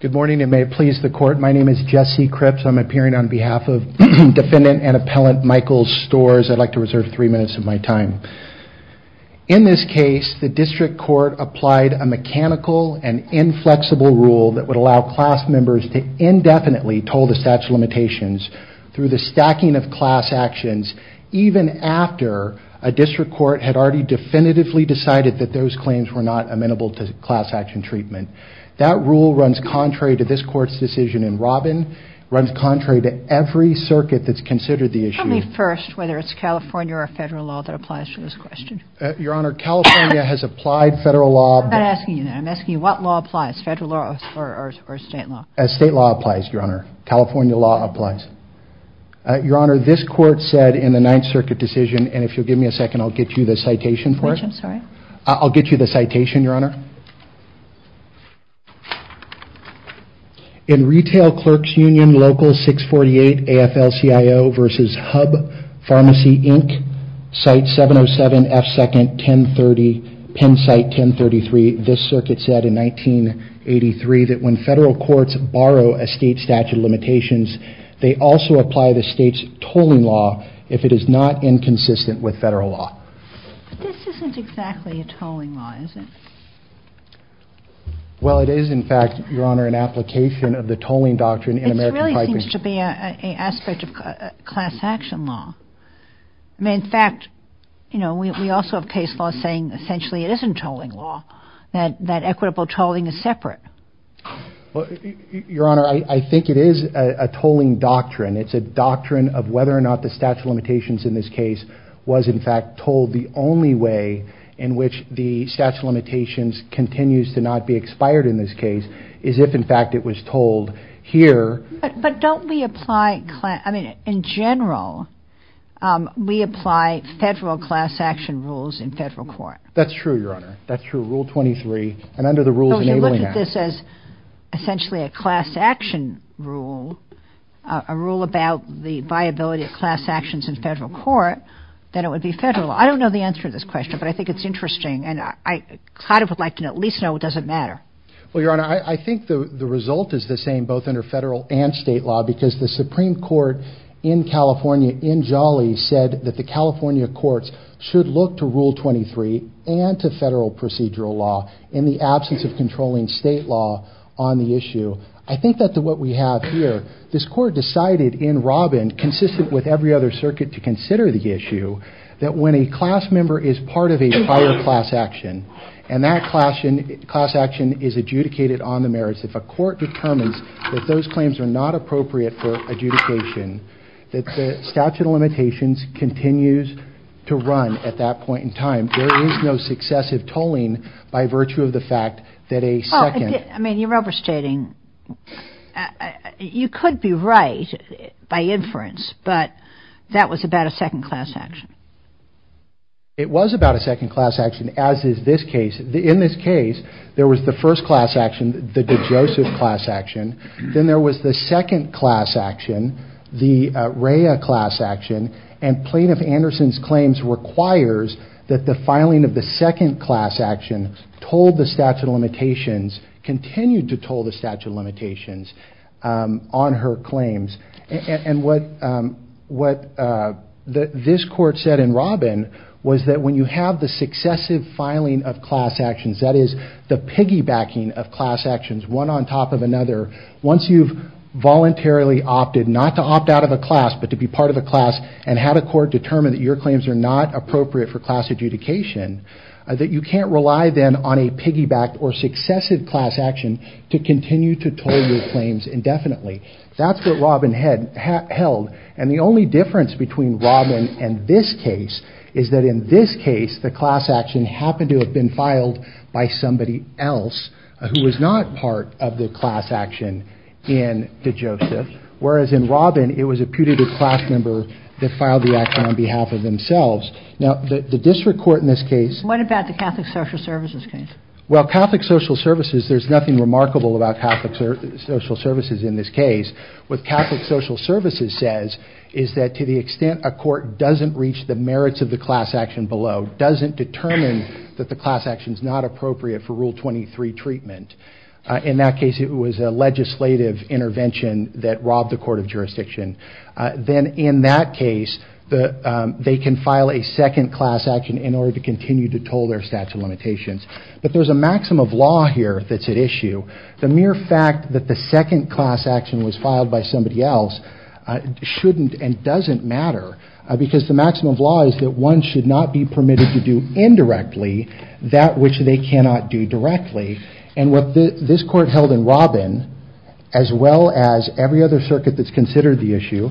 Good morning, and may it please the Court, my name is Jesse Cripps. I'm appearing on behalf of Defendant and Appellant Michaels Stores. I'd like to reserve three minutes of my time. In this case, the district court applied a mechanical and inflexible rule that would allow class members to indefinitely toll the statute of limitations through the stacking of class actions, even after a district court had already definitively decided that those claims were not amenable to class action treatment. That rule runs contrary to this court's decision, and Robin, runs contrary to every circuit that's considered the issue. Tell me first whether it's California or federal law that applies to this question. Your Honor, California has applied federal law. I'm not asking you that. I'm asking you what law applies, federal law or state law? State law applies, Your Honor. California law applies. Your Honor, this court said in the Ninth Circuit decision, and if you'll give me a second, I'll get you the citation for it. I'm sorry? I'll get you the citation, Your Honor. In Retail Clerks Union Local 648 AFL-CIO v. Hub Pharmacy, Inc., Site 707 F2nd 1030, Penn Site 1033, this circuit said in 1983 that when federal courts borrow a state statute of limitations, they also apply the state's tolling law if it is not inconsistent with federal law. But this isn't exactly a tolling law, is it? Well, it is, in fact, Your Honor, an application of the tolling doctrine in American piping. It really seems to be an aspect of class action law. I mean, in fact, you know, we also have case laws saying essentially it isn't tolling law, that equitable tolling is separate. Well, Your Honor, I think it is a tolling doctrine. It's a doctrine of whether or not the statute of limitations in this case was, in fact, tolled. The only way in which the statute of limitations continues to not be expired in this case is if, in fact, it was tolled here. But don't we apply, I mean, in general, we apply federal class action rules in federal court? That's true, Your Honor. That's true. Rule 23, and under the Rules Enabling Act. So you look at this as essentially a class action rule. If you were to tell people about the viability of class actions in federal court, then it would be federal. I don't know the answer to this question, but I think it's interesting. And I kind of would like to at least know, does it matter? Well, Your Honor, I think the result is the same, both under federal and state law, because the Supreme Court in California, in Jolly, said that the California courts should look to Rule 23 and to federal procedural law in the absence of controlling state law on the issue. I think that's what we have here. This court decided in Robin, consistent with every other circuit to consider the issue, that when a class member is part of a prior class action, and that class action is adjudicated on the merits, if a court determines that those claims are not appropriate for adjudication, that the statute of limitations continues to run at that point in time. There is no successive tolling by virtue of the fact that a second class action is adjudicated. I mean, you're overstating. You could be right by inference, but that was about a second class action. It was about a second class action, as is this case. In this case, there was the first class action, the DeJoseph class action. Then there was the second class action, the Rea class action. And Plaintiff Anderson's claims requires that the filing of the second class action told the statute of limitations, continued to toll the statute of limitations on her claims. And what this court said in Robin was that when you have the successive filing of class actions, that is, the piggybacking of class actions, one on top of another, once you've voluntarily opted not to opt out of a class, but to be part of a class, and had a court determine that your claims are not appropriate for class adjudication, that you can't rely then on a piggyback or successive class action to continue to toll your claims indefinitely. That's what Robin held. And the only difference between Robin and this case is that in this case, the class action happened to have been filed by somebody else who was not part of the class action in DeJoseph, whereas in Robin, it was a putative class member that filed the action on behalf of themselves. Now, the district court in this case... What about the Catholic Social Services case? Well, Catholic Social Services, there's nothing remarkable about Catholic Social Services in this case. What Catholic Social Services says is that to the extent a court doesn't reach the merits of the class action below, doesn't determine that the class action is not appropriate for Rule 23 treatment. In that case, it was a legislative intervention that robbed the court of jurisdiction. Then in that case, they can file a second class action in order to continue to toll their statute of limitations. But there's a maximum of law here that's at issue. The mere fact that the second class action was filed by somebody else shouldn't and doesn't matter, because the maximum of law is that one should not be permitted to do indirectly that which they cannot do directly. And what this court held in Robin, as well as every other circuit that's considered the issue,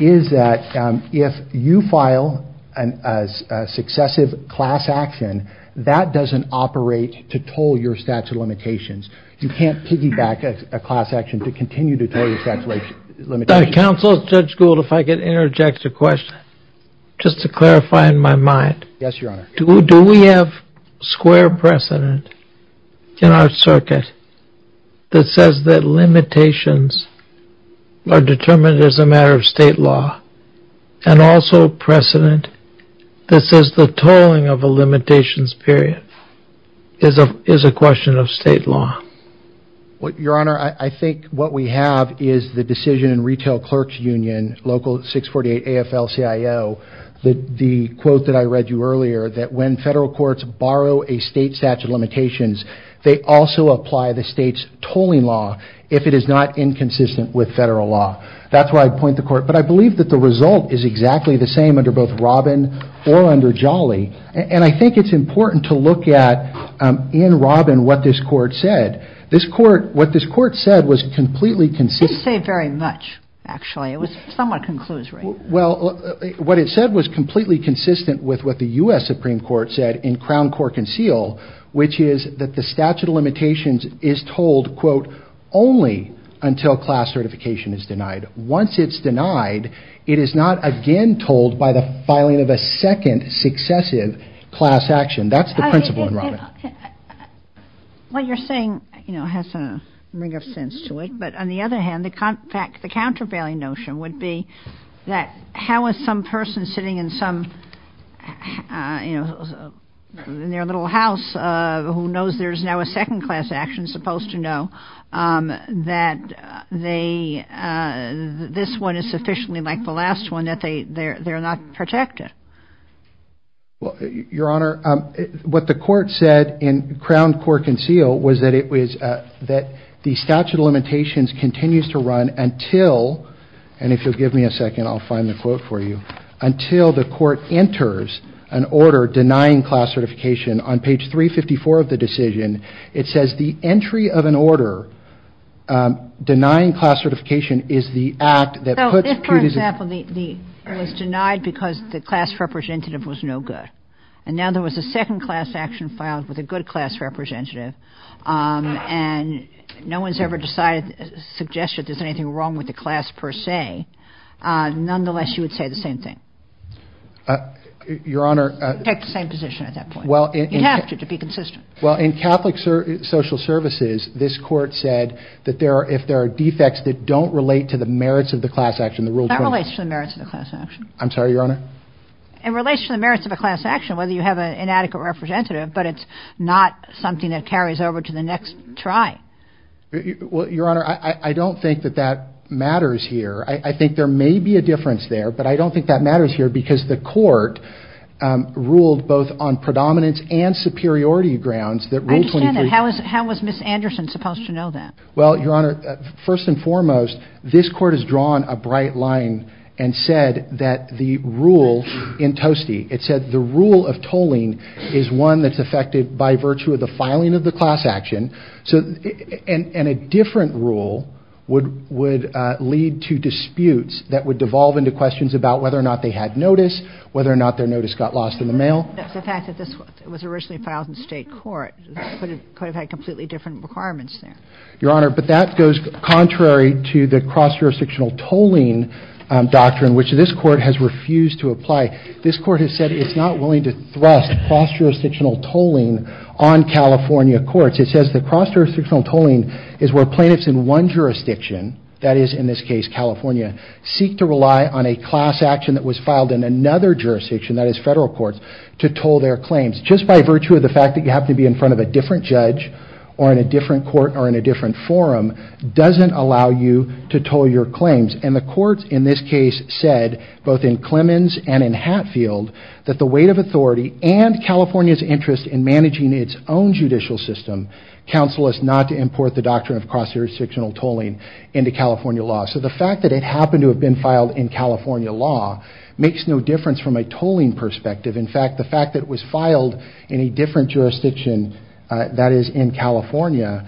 is that if you file a successive class action, that doesn't operate to toll your statute of limitations. You can't piggyback a class action to continue to toll your statute of limitations. Counsel, Judge Gould, if I could interject a question, just to clarify in my mind. Yes, Your Honor. Do we have square precedent in our circuit that says that limitations are determined as a matter of state law, and also precedent that says the tolling of a limitations period is a question of state law? Your Honor, I think what we have is the decision in Retail Clerks Union, Local 648 AFL-CIO. The quote that I read you earlier, that when federal courts borrow a state statute of limitations, they also apply the state's tolling law if it is not inconsistent with federal law. That's where I'd point the court. But I believe that the result is exactly the same under both Robin or under Jolly. And I think it's important to look at, in Robin, what this court said. This court, what this court said was completely conceited. It didn't say very much, actually. It was somewhat conclusive. Well, what it said was completely consistent with what the U.S. Supreme Court said in Crown Court Conceal, which is that the statute of limitations is told, quote, only until class certification is denied. Once it's denied, it is not again told by the filing of a second successive class action. That's the principle in Robin. What you're saying, you know, has a ring of sense to it. But on the other hand, the countervailing notion would be that how is some person sitting in some, you know, in their little house who knows there's now a second class action supposed to know that they, this one is sufficiently like the last one that they're not protected? Well, Your Honor, what the court said in Crown Court Conceal was that it was, that the statute of limitations continues to run until, and if you'll give me a second, I'll find the quote for you, until the court enters an order denying class certification. On page 354 of the decision, it says the entry of an order denying class certification is the act that puts. For example, it was denied because the class representative was no good. And now there was a second class action filed with a good class representative, and no one's ever decided, suggested there's anything wrong with the class per se. Nonetheless, you would say the same thing. Your Honor. Take the same position at that point. You have to, to be consistent. Well, in Catholic social services, this court said that there are, if there are defects that don't relate to the merits of the class action, the Rule 23. That relates to the merits of the class action. I'm sorry, Your Honor? It relates to the merits of a class action, whether you have an inadequate representative, but it's not something that carries over to the next try. Well, Your Honor, I don't think that that matters here. I think there may be a difference there, but I don't think that matters here, because the court ruled both on predominance and superiority grounds that Rule 23. I understand that. How was Ms. Anderson supposed to know that? Well, Your Honor, first and foremost, this court has drawn a bright line and said that the rule in Toastie, it said the rule of tolling is one that's affected by virtue of the filing of the class action, and a different rule would lead to disputes that would devolve into questions about whether or not they had notice, whether or not their notice got lost in the mail. The fact that this was originally filed in state court could have had completely different requirements there. Your Honor, but that goes contrary to the cross-jurisdictional tolling doctrine, which this court has refused to apply. This court has said it's not willing to thrust cross-jurisdictional tolling on California courts. It says the cross-jurisdictional tolling is where plaintiffs in one jurisdiction, that is in this case California, seek to rely on a class action that was filed in another jurisdiction, that is federal courts, to toll their claims just by virtue of the fact that you have to be in front of a different judge or in a different court or in a different forum, doesn't allow you to toll your claims. And the courts in this case said, both in Clemens and in Hatfield, that the weight of authority and California's interest in managing its own judicial system counsel us not to import the doctrine of cross-jurisdictional tolling into California law. So the fact that it happened to have been filed in California law makes no difference from a tolling perspective. In fact, the fact that it was filed in a different jurisdiction, that is in California,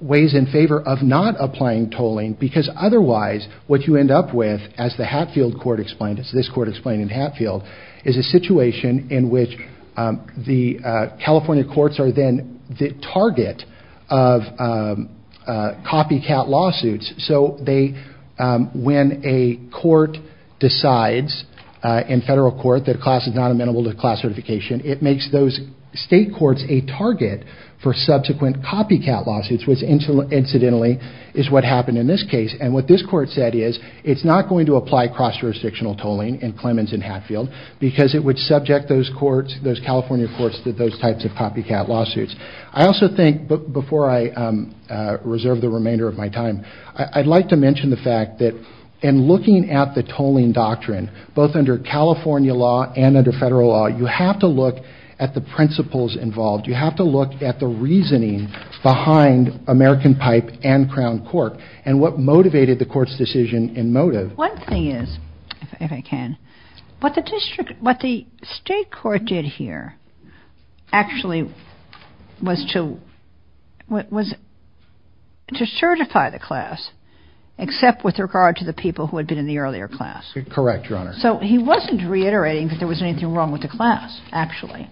weighs in favor of not applying tolling because otherwise what you end up with, as the Hatfield court explained, as this court explained in Hatfield, is a situation in which the California courts are then the target of copycat lawsuits. So when a court decides in federal court that a class is not amenable to class certification, it makes those state courts a target for subsequent copycat lawsuits, which incidentally is what happened in this case. And what this court said is, it's not going to apply cross-jurisdictional tolling in Clemens and Hatfield because it would subject those California courts to those types of copycat lawsuits. I also think, before I reserve the remainder of my time, I'd like to mention the fact that in looking at the tolling doctrine, both under California law and under federal law, you have to look at the principles involved. You have to look at the reasoning behind American Pipe and Crown Court and what motivated the court's decision in motive. One thing is, if I can, what the state court did here actually was to certify the class except with regard to the people who had been in the earlier class. Correct, Your Honor. So he wasn't reiterating that there was anything wrong with the class actually,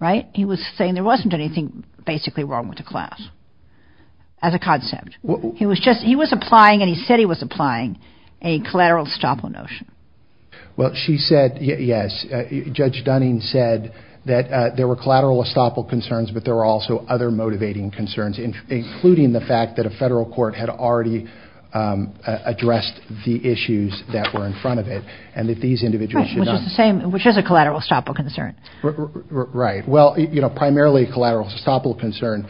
right? He was saying there wasn't anything basically wrong with the class as a concept. He was applying, and he said he was applying, a collateral estoppel notion. Well, she said yes. Judge Dunning said that there were collateral estoppel concerns, but there were also other motivating concerns, including the fact that a federal court had already addressed the issues that were in front of it and that these individuals should not. Right, which is the same, which is a collateral estoppel concern. Right. Well, you know, primarily a collateral estoppel concern.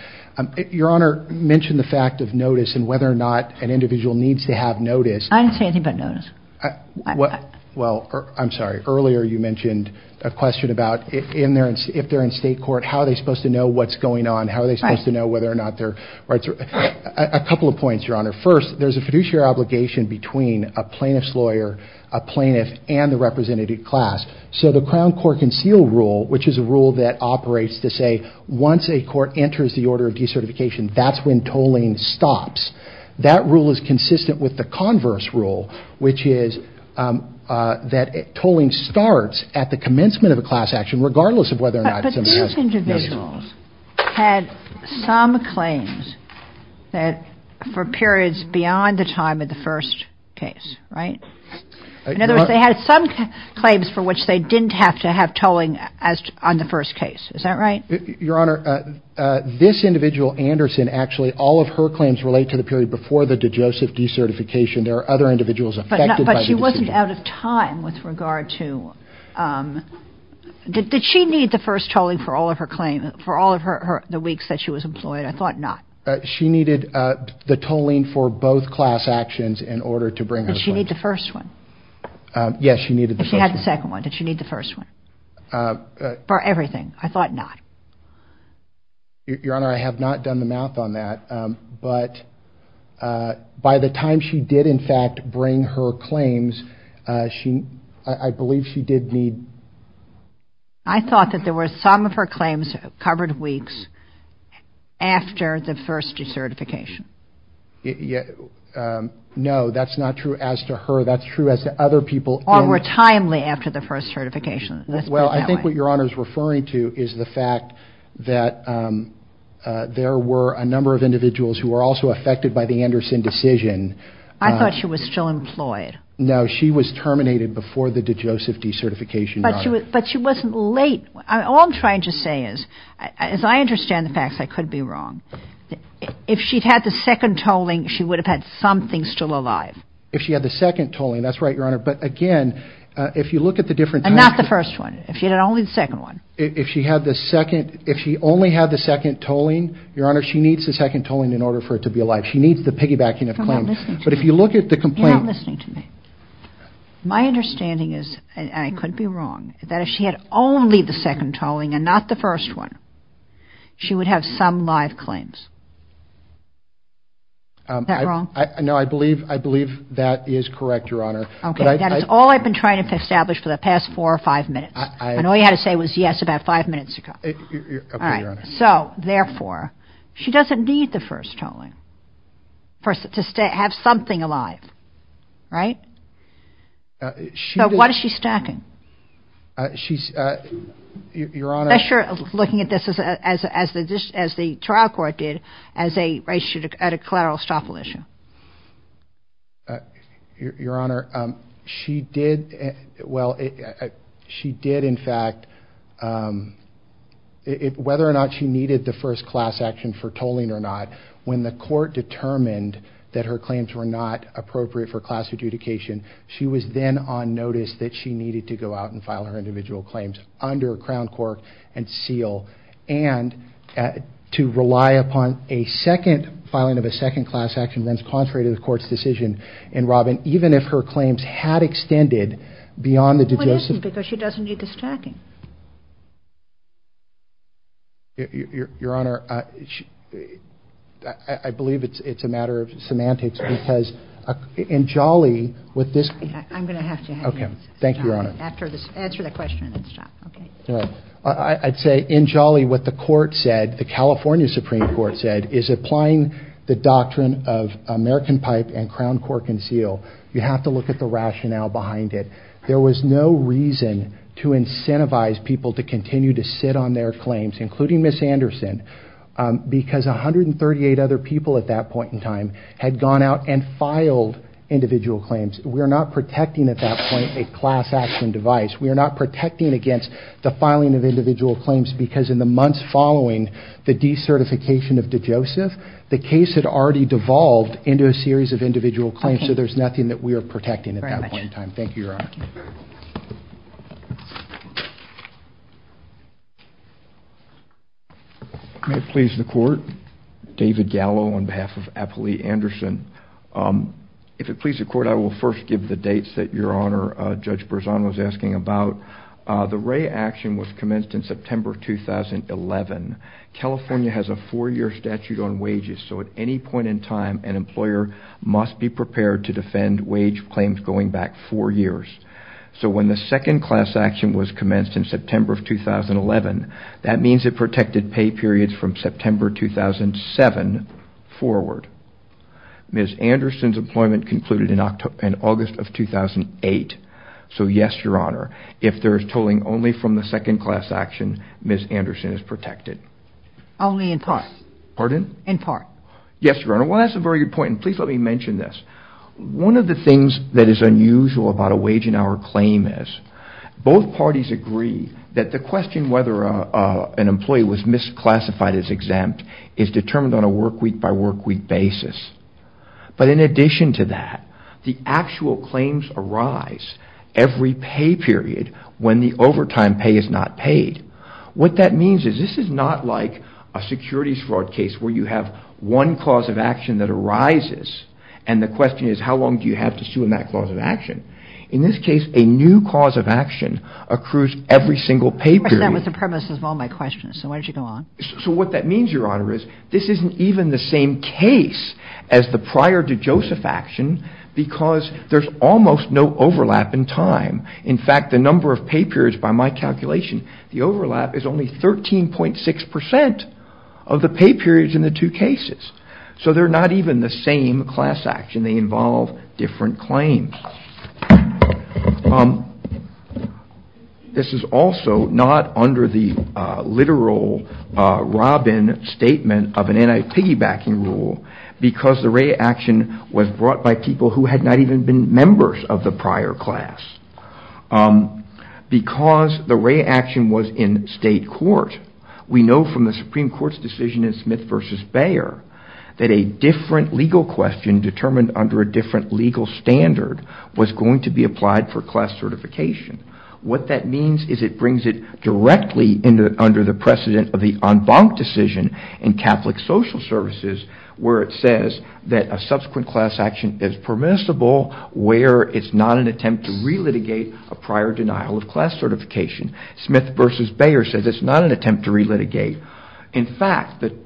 Your Honor mentioned the fact of notice and whether or not an individual needs to have notice. I didn't say anything about notice. Well, I'm sorry. Earlier you mentioned a question about if they're in state court, how are they supposed to know what's going on? How are they supposed to know whether or not their rights are— Right. A couple of points, Your Honor. First, there's a fiduciary obligation between a plaintiff's lawyer, a plaintiff, and the representative class. So the Crown Court Conceal Rule, which is a rule that operates to say once a court enters the order of decertification, that's when tolling stops. That rule is consistent with the Converse Rule, which is that tolling starts at the commencement of a class action regardless of whether or not somebody has notice. But these individuals had some claims for periods beyond the time of the first case, right? In other words, they had some claims for which they didn't have to have tolling on the first case. Is that right? Your Honor, this individual, Anderson, actually all of her claims relate to the period before the DeJoseph decertification. There are other individuals affected by the decision. But she wasn't out of time with regard to— Did she need the first tolling for all of her claims, for all of the weeks that she was employed? I thought not. Did she need the first one? Yes, she needed the first one. If she had the second one, did she need the first one for everything? I thought not. Your Honor, I have not done the math on that. But by the time she did, in fact, bring her claims, I believe she did need— I thought that there were some of her claims covered weeks after the first decertification. No, that's not true as to her. That's true as to other people. Or were timely after the first certification. Well, I think what Your Honor is referring to is the fact that there were a number of individuals who were also affected by the Anderson decision. I thought she was still employed. No, she was terminated before the DeJoseph decertification. But she wasn't late. All I'm trying to say is, as I understand the facts, I could be wrong. If she'd had the second tolling, she would have had something still alive. If she had the second tolling, that's right, Your Honor. But again, if you look at the different— And not the first one. If she had only the second one. If she had the second—if she only had the second tolling, Your Honor, she needs the second tolling in order for it to be alive. She needs the piggybacking of claims. You're not listening to me. But if you look at the complaint— You're not listening to me. My understanding is, and I could be wrong, that if she had only the second tolling and not the first one, she would have some live claims. Is that wrong? No, I believe that is correct, Your Honor. Okay, that is all I've been trying to establish for the past four or five minutes. And all you had to say was yes about five minutes ago. Okay, Your Honor. So, therefore, she doesn't need the first tolling to have something alive, right? So what is she stacking? She's—Your Honor— Unless you're looking at this as the trial court did at a collateral estoppel issue. Your Honor, she did—well, she did, in fact—whether or not she needed the first class action for tolling or not, when the court determined that her claims were not appropriate for class adjudication, she was then on notice that she needed to go out and file her individual claims under Crown Cork and seal. And to rely upon a second filing of a second class action, that is contrary to the court's decision in Robin, even if her claims had extended beyond the deductions— Well, it isn't, because she doesn't need the stacking. Your Honor, I believe it's a matter of semantics, because in Jolly, with this— I'm going to have to have you answer the question and then stop. Okay, thank you, Your Honor. I'd say, in Jolly, what the court said, the California Supreme Court said, is applying the doctrine of American pipe and Crown Cork and seal. You have to look at the rationale behind it. There was no reason to incentivize people to continue to sit on their claims, including Ms. Anderson, because 138 other people at that point in time had gone out and filed individual claims. We are not protecting at that point a class action device. We are not protecting against the filing of individual claims, because in the months following the decertification of DeJoseph, the case had already devolved into a series of individual claims, so there's nothing that we are protecting at that point in time. Thank you very much. Thank you, Your Honor. May it please the Court, David Gallo on behalf of Apolli Anderson. If it please the Court, I will first give the dates that Your Honor, Judge Berzano, was asking about. The Wray action was commenced in September of 2011. California has a four-year statute on wages, so at any point in time an employer must be prepared to defend wage claims going back four years. So when the second class action was commenced in September of 2011, that means it protected pay periods from September 2007 forward. Ms. Anderson's employment concluded in August of 2008. So yes, Your Honor, if there is tolling only from the second class action, Ms. Anderson is protected. Only in part. Pardon? In part. Yes, Your Honor. Well, that's a very good point, and please let me mention this. One of the things that is unusual about a wage and hour claim is both parties agree that the question whether an employee was misclassified as exempt is determined on a workweek-by-workweek basis. But in addition to that, the actual claims arise every pay period when the overtime pay is not paid. What that means is this is not like a securities fraud case where you have one cause of action that arises and the question is how long do you have to sue in that cause of action. In this case, a new cause of action accrues every single pay period. That was the premise of all my questions, so why don't you go on. So what that means, Your Honor, is this isn't even the same case as the prior to Joseph action because there's almost no overlap in time. In fact, the number of pay periods by my calculation, the overlap is only 13.6% of the pay periods in the two cases. So they're not even the same class action. They involve different claims. This is also not under the literal Robin statement of an anti-piggybacking rule because the Wray action was brought by people who had not even been members of the prior class. Because the Wray action was in state court, we know from the Supreme Court's decision in Smith v. Bayer that a different legal question determined under a different legal standard was going to be applied for class certification. What that means is it brings it directly under the precedent of the en banc decision in Catholic Social Services where it says that a subsequent class action is permissible where it's not an attempt to re-litigate a prior denial of class certification. Smith v. Bayer says it's not an attempt to re-litigate. In fact, the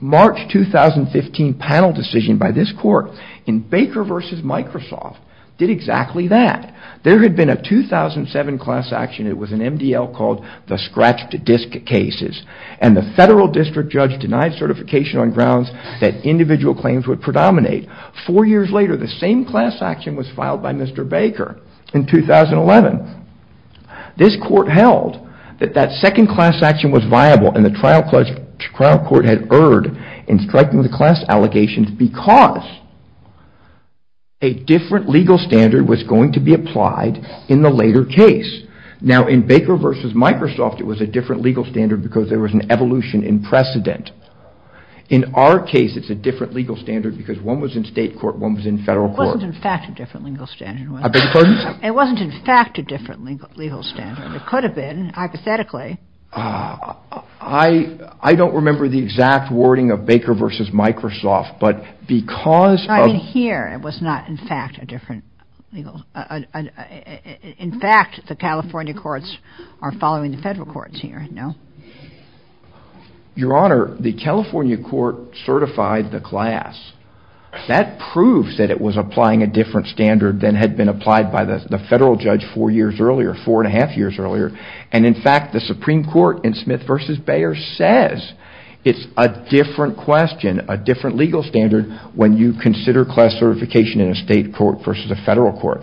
March 2015 panel decision by this court in Baker v. Microsoft did exactly that. There had been a 2007 class action. It was an MDL called the Scratch to Disc cases. And the federal district judge denied certification on grounds that individual claims would predominate. Four years later, the same class action was filed by Mr. Baker in 2011. This court held that that second class action was viable and the trial court had erred in striking the class allegations because a different legal standard was going to be applied in the later case. Now, in Baker v. Microsoft, it was a different legal standard because there was an evolution in precedent. In our case, it's a different legal standard because one was in state court, one was in federal court. It wasn't in fact a different legal standard. I beg your pardon? It wasn't in fact a different legal standard. It could have been, hypothetically. I don't remember the exact wording of Baker v. Microsoft, but because of— I mean here, it was not in fact a different legal— in fact, the California courts are following the federal courts here, no? Your Honor, the California court certified the class. That proves that it was applying a different standard than had been applied by the federal judge four years earlier, four and a half years earlier. In fact, the Supreme Court in Smith v. Bayer says it's a different question, a different legal standard when you consider class certification in a state court versus a federal court.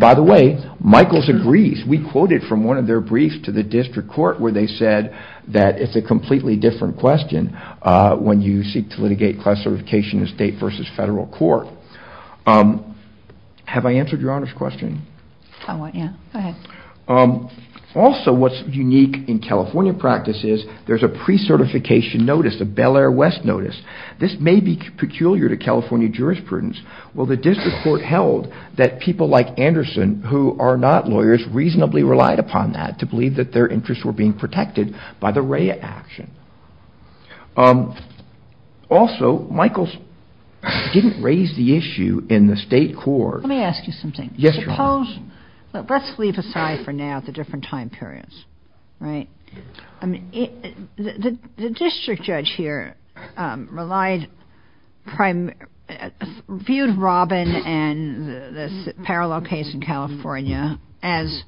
By the way, Michaels agrees. We quoted from one of their briefs to the district court where they said that it's a completely different question when you seek to litigate class certification in a state versus federal court. Have I answered Your Honor's question? I want you to. Go ahead. Also, what's unique in California practice is there's a pre-certification notice, a Bel Air West notice. This may be peculiar to California jurisprudence. Well, the district court held that people like Anderson, who are not lawyers, reasonably relied upon that to believe that their interests were being protected by the RAIA action. Also, Michaels didn't raise the issue in the state court. Let me ask you something. Yes, Your Honor. Let's leave aside for now the different time periods, right? The district judge here viewed Robin and the parallel case in California as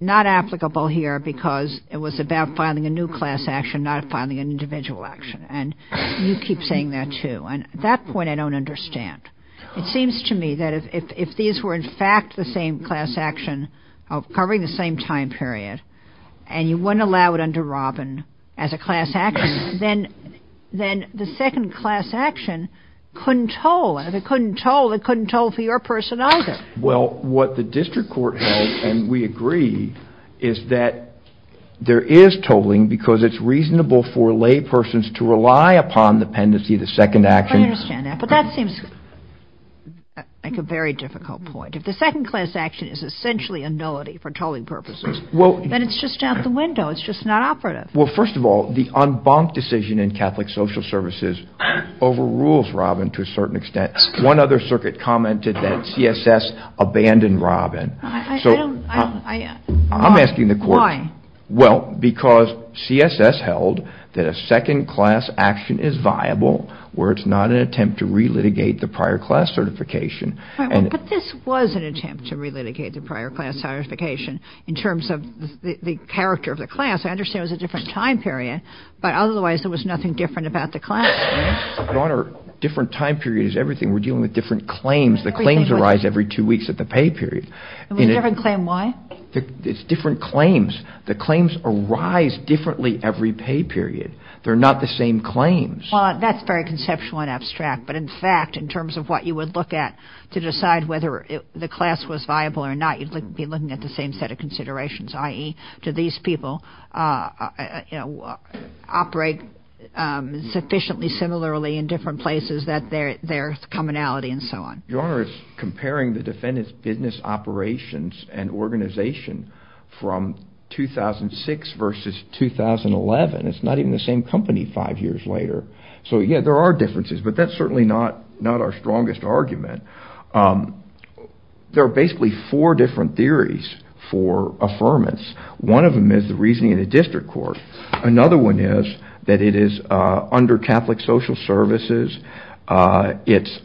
not applicable here because it was about filing a new class action, not filing an individual action. And you keep saying that too. At that point, I don't understand. It seems to me that if these were in fact the same class action covering the same time period and you wouldn't allow it under Robin as a class action, then the second class action couldn't toll. And if it couldn't toll, it couldn't toll for your person either. Well, what the district court held, and we agree, is that there is tolling because it's reasonable for laypersons to rely upon the pendency of the second action. I understand that. But that seems like a very difficult point. If the second class action is essentially a nullity for tolling purposes, then it's just out the window. It's just not operative. Well, first of all, the en banc decision in Catholic Social Services overrules Robin to a certain extent. One other circuit commented that CSS abandoned Robin. I'm asking the court. Why? Well, because CSS held that a second class action is viable where it's not an attempt to relitigate the prior class certification. But this was an attempt to relitigate the prior class certification in terms of the character of the class. I understand it was a different time period. But otherwise, there was nothing different about the class. Your Honor, different time period is everything. We're dealing with different claims. The claims arise every two weeks of the pay period. A different claim why? It's different claims. The claims arise differently every pay period. They're not the same claims. Well, that's very conceptual and abstract. But, in fact, in terms of what you would look at to decide whether the class was viable or not, you'd be looking at the same set of considerations, i.e., do these people operate sufficiently similarly in different places that their commonality and so on. Your Honor, it's comparing the defendant's business operations and organization from 2006 versus 2011. It's not even the same company five years later. So, yeah, there are differences. But that's certainly not our strongest argument. There are basically four different theories for affirmance. One of them is the reasoning in the district court. Another one is that it is under Catholic social services. It's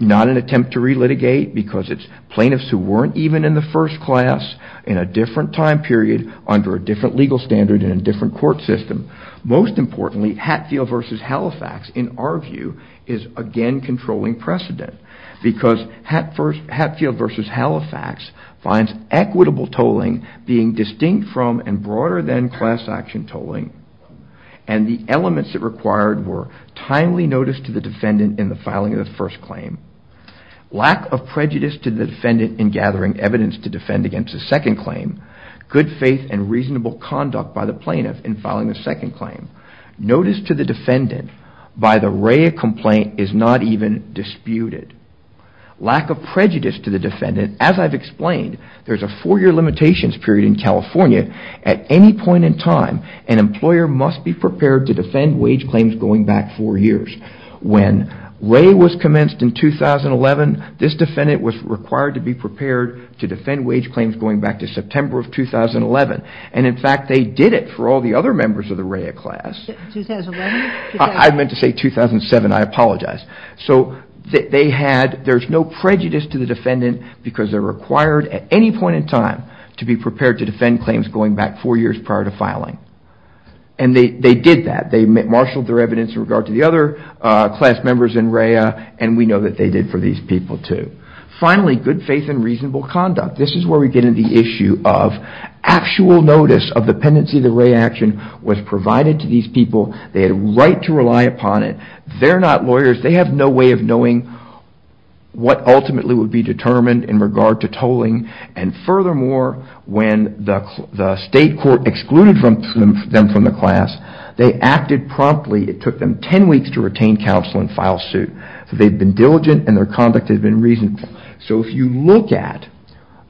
not an attempt to relitigate because it's plaintiffs who weren't even in the first class in a different time period, under a different legal standard and a different court system. Most importantly, Hatfield v. Halifax, in our view, is again controlling precedent because Hatfield v. Halifax finds equitable tolling being distinct from and broader than class action tolling. And the elements it required were timely notice to the defendant in the filing of the first claim, lack of prejudice to the defendant in gathering evidence to defend against the second claim, good faith and reasonable conduct by the plaintiff in filing the second claim. Notice to the defendant by the RAE complaint is not even disputed. Lack of prejudice to the defendant, as I've explained, there's a four-year limitations period in California. At any point in time, an employer must be prepared to defend wage claims going back four years. When RAE was commenced in 2011, this defendant was required to be prepared to defend wage claims going back to September of 2011. And in fact, they did it for all the other members of the RAE class. I meant to say 2007, I apologize. So there's no prejudice to the defendant because they're required at any point in time to be prepared to defend claims going back four years prior to filing. And they did that. They marshaled their evidence in regard to the other class members in RAE and we know that they did for these people too. Finally, good faith and reasonable conduct. This is where we get into the issue of actual notice of the pendency of the RAE action was provided to these people. They had a right to rely upon it. They're not lawyers. They have no way of knowing what ultimately would be determined in regard to tolling. And furthermore, when the state court excluded them from the class, they acted promptly. It took them 10 weeks to retain counsel and file suit. So they've been diligent and their conduct has been reasonable. So if you look at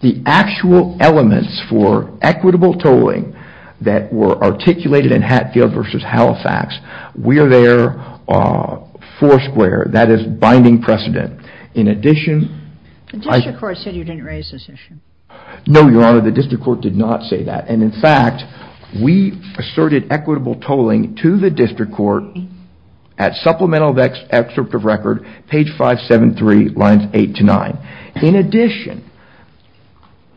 the actual elements for equitable tolling that were articulated in Hatfield v. Halifax, we are there four square. That is binding precedent. In addition, I... The district court said you didn't raise this issue. No, Your Honor, the district court did not say that. And in fact, we asserted equitable tolling to the district court at supplemental excerpt of record, page 573, lines 8 to 9. In addition,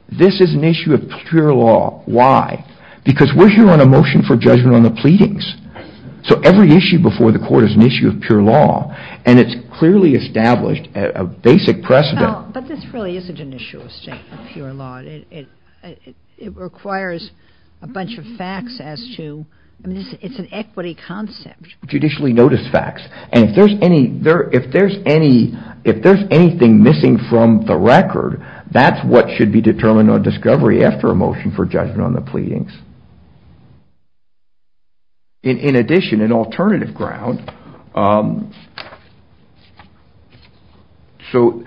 this is an issue of pure law. Why? Because we're here on a motion for judgment on the pleadings. So every issue before the court is an issue of pure law. And it's clearly established a basic precedent. But this really isn't an issue of pure law. It requires a bunch of facts as to... It's an equity concept. Judicially noticed facts. And if there's anything missing from the record, that's what should be determined on discovery after a motion for judgment on the pleadings. In addition, an alternative ground. So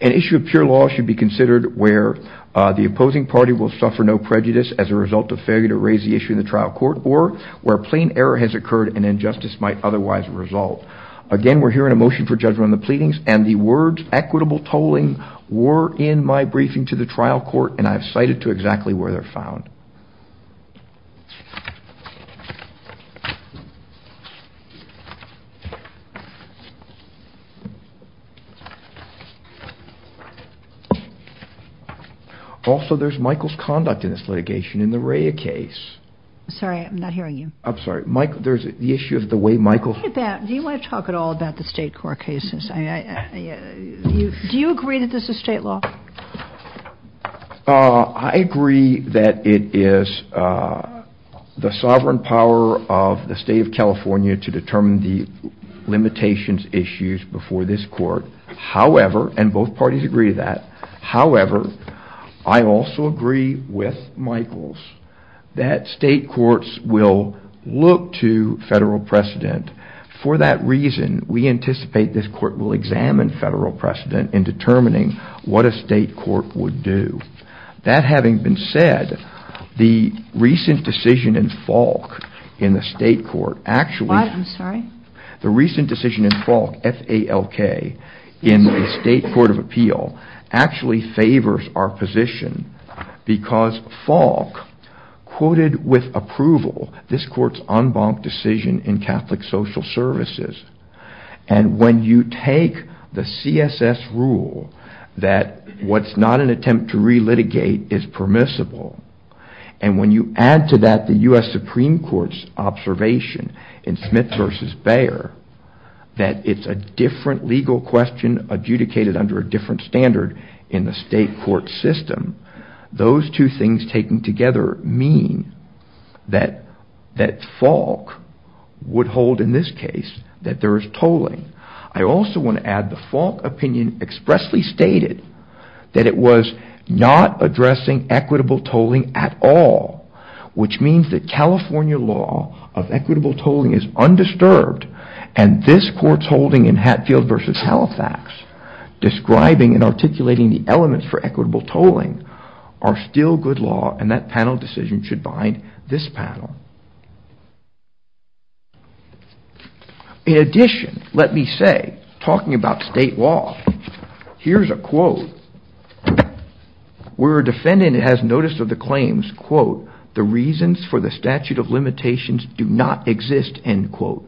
an issue of pure law should be considered where the opposing party will suffer no prejudice as a result of failure to raise the issue in the trial court, or where plain error has occurred and injustice might otherwise result. Again, we're here on a motion for judgment on the pleadings, and the words equitable tolling were in my briefing to the trial court, and I've cited to exactly where they're found. Also, there's Michael's conduct in this litigation in the Rhea case. Sorry, I'm not hearing you. I'm sorry. Michael, there's the issue of the way Michael... Look at that. Do you want to talk at all about the state court cases? Do you agree that this is state law? I agree that it is the sovereign power of the state of California to determine the outcome of the case. I agree with the limitations issues before this court, and both parties agree to that. However, I also agree with Michael's that state courts will look to federal precedent. For that reason, we anticipate this court will examine federal precedent in determining what a state court would do. That having been said, the recent decision in Falk in the state court actually... I'm sorry? The recent decision in Falk, F-A-L-K, in the state court of appeal actually favors our position because Falk quoted with approval this court's en banc decision in Catholic Social Services, and when you take the CSS rule that what's not an attempt to re-litigate is permissible, and when you add to that the U.S. Supreme Court's observation in Smith v. Bayer that it's a different legal question adjudicated under a different standard in the state court system, those two things taken together mean that Falk would hold in this case that there is tolling. I also want to add the Falk opinion expressly stated that it was not addressing equitable tolling at all, which means that California law of equitable tolling is undisturbed, and this court's holding in Hatfield v. Halifax describing and articulating the elements for equitable tolling are still good law, and that panel decision should bind this panel. In addition, let me say, talking about state law, here's a quote. Where a defendant has notice of the claims, quote, the reasons for the statute of limitations do not exist, end quote.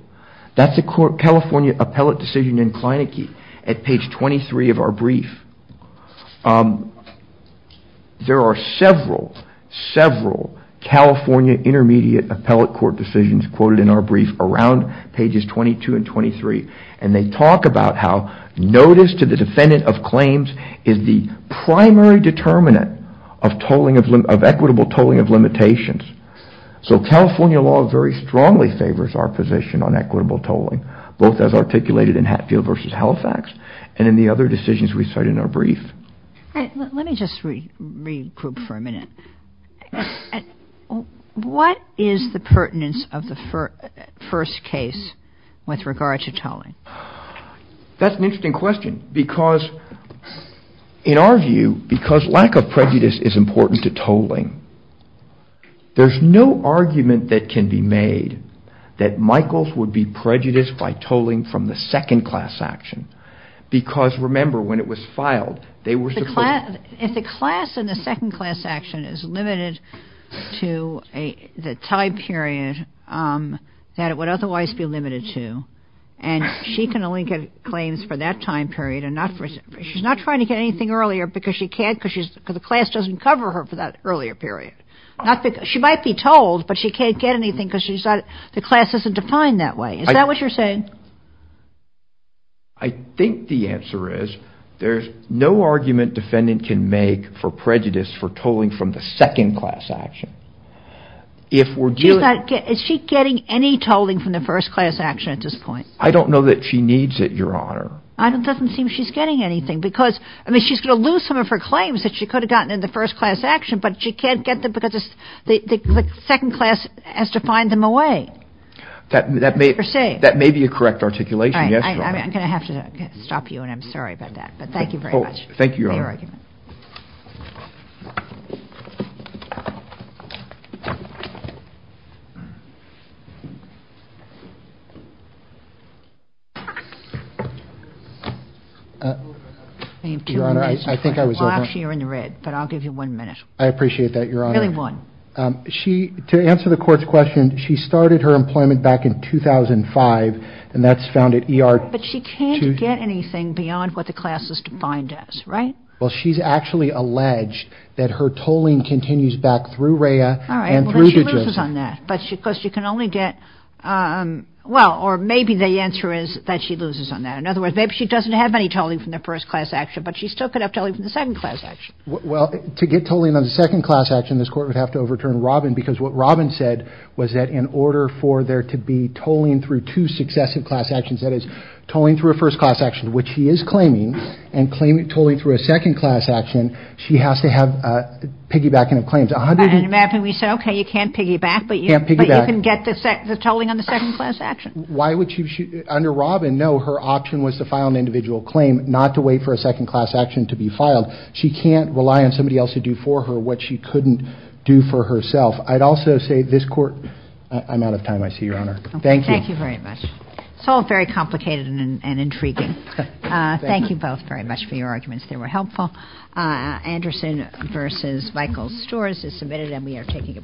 That's a California appellate decision in Kleinecke at page 23 of our brief. There are several, several California intermediate appellate court decisions quoted in our brief around pages 22 and 23, and they talk about how notice to the defendant of claims is the primary determinant of equitable tolling of limitations. So California law very strongly favors our position on equitable tolling, both as articulated in Hatfield v. Halifax and in the other decisions we cite in our brief. Let me just regroup for a minute. What is the pertinence of the first case with regard to tolling? That's an interesting question because, in our view, because lack of prejudice is important to tolling, there's no argument that can be made that Michaels would be prejudiced by tolling from the second class action. Because, remember, when it was filed, they were supposed to... If the class in the second class action is limited to the time period that it would otherwise be limited to, and she can only get claims for that time period and not for... She might be tolled, but she can't get anything because the class isn't defined that way. Is that what you're saying? I think the answer is there's no argument defendant can make for prejudice for tolling from the second class action. Is she getting any tolling from the first class action at this point? I don't know that she needs it, Your Honor. It doesn't seem she's getting anything because, I mean, she's going to lose some of her claims that she could have gotten in the first class action, but she can't get them because the second class has defined them away. That may be a correct articulation, yes, Your Honor. I'm going to have to stop you, and I'm sorry about that. But thank you very much for your argument. Thank you, Your Honor. Your Honor, I think I was over... Well, actually, you're in the red, but I'll give you one minute. I appreciate that, Your Honor. Really one. She, to answer the court's question, she started her employment back in 2005, and that's found at ER... But she can't get anything beyond what the class is defined as, right? All right, well, then she loses on that because she can only get... Well, or maybe the answer is that she loses on that. In other words, maybe she doesn't have any tolling from the first class action, but she still could have tolling from the second class action. Well, to get tolling on the second class action, this Court would have to overturn Robin because what Robin said was that in order for there to be tolling through two successive class actions, that is tolling through a first class action, which she is claiming, and claiming tolling through a second class action, she has to have piggybacking of claims. And imagine we said, okay, you can't piggyback, but you can get the tolling on the second class action. Why would she... Under Robin, no, her option was to file an individual claim, not to wait for a second class action to be filed. She can't rely on somebody else to do for her what she couldn't do for herself. I'd also say this Court... I'm out of time, I see, Your Honor. Thank you. Thank you very much. It's all very complicated and intriguing. Thank you both very much for your arguments. They were helpful. Anderson v. Michael Storrs is submitted and we are taking a break.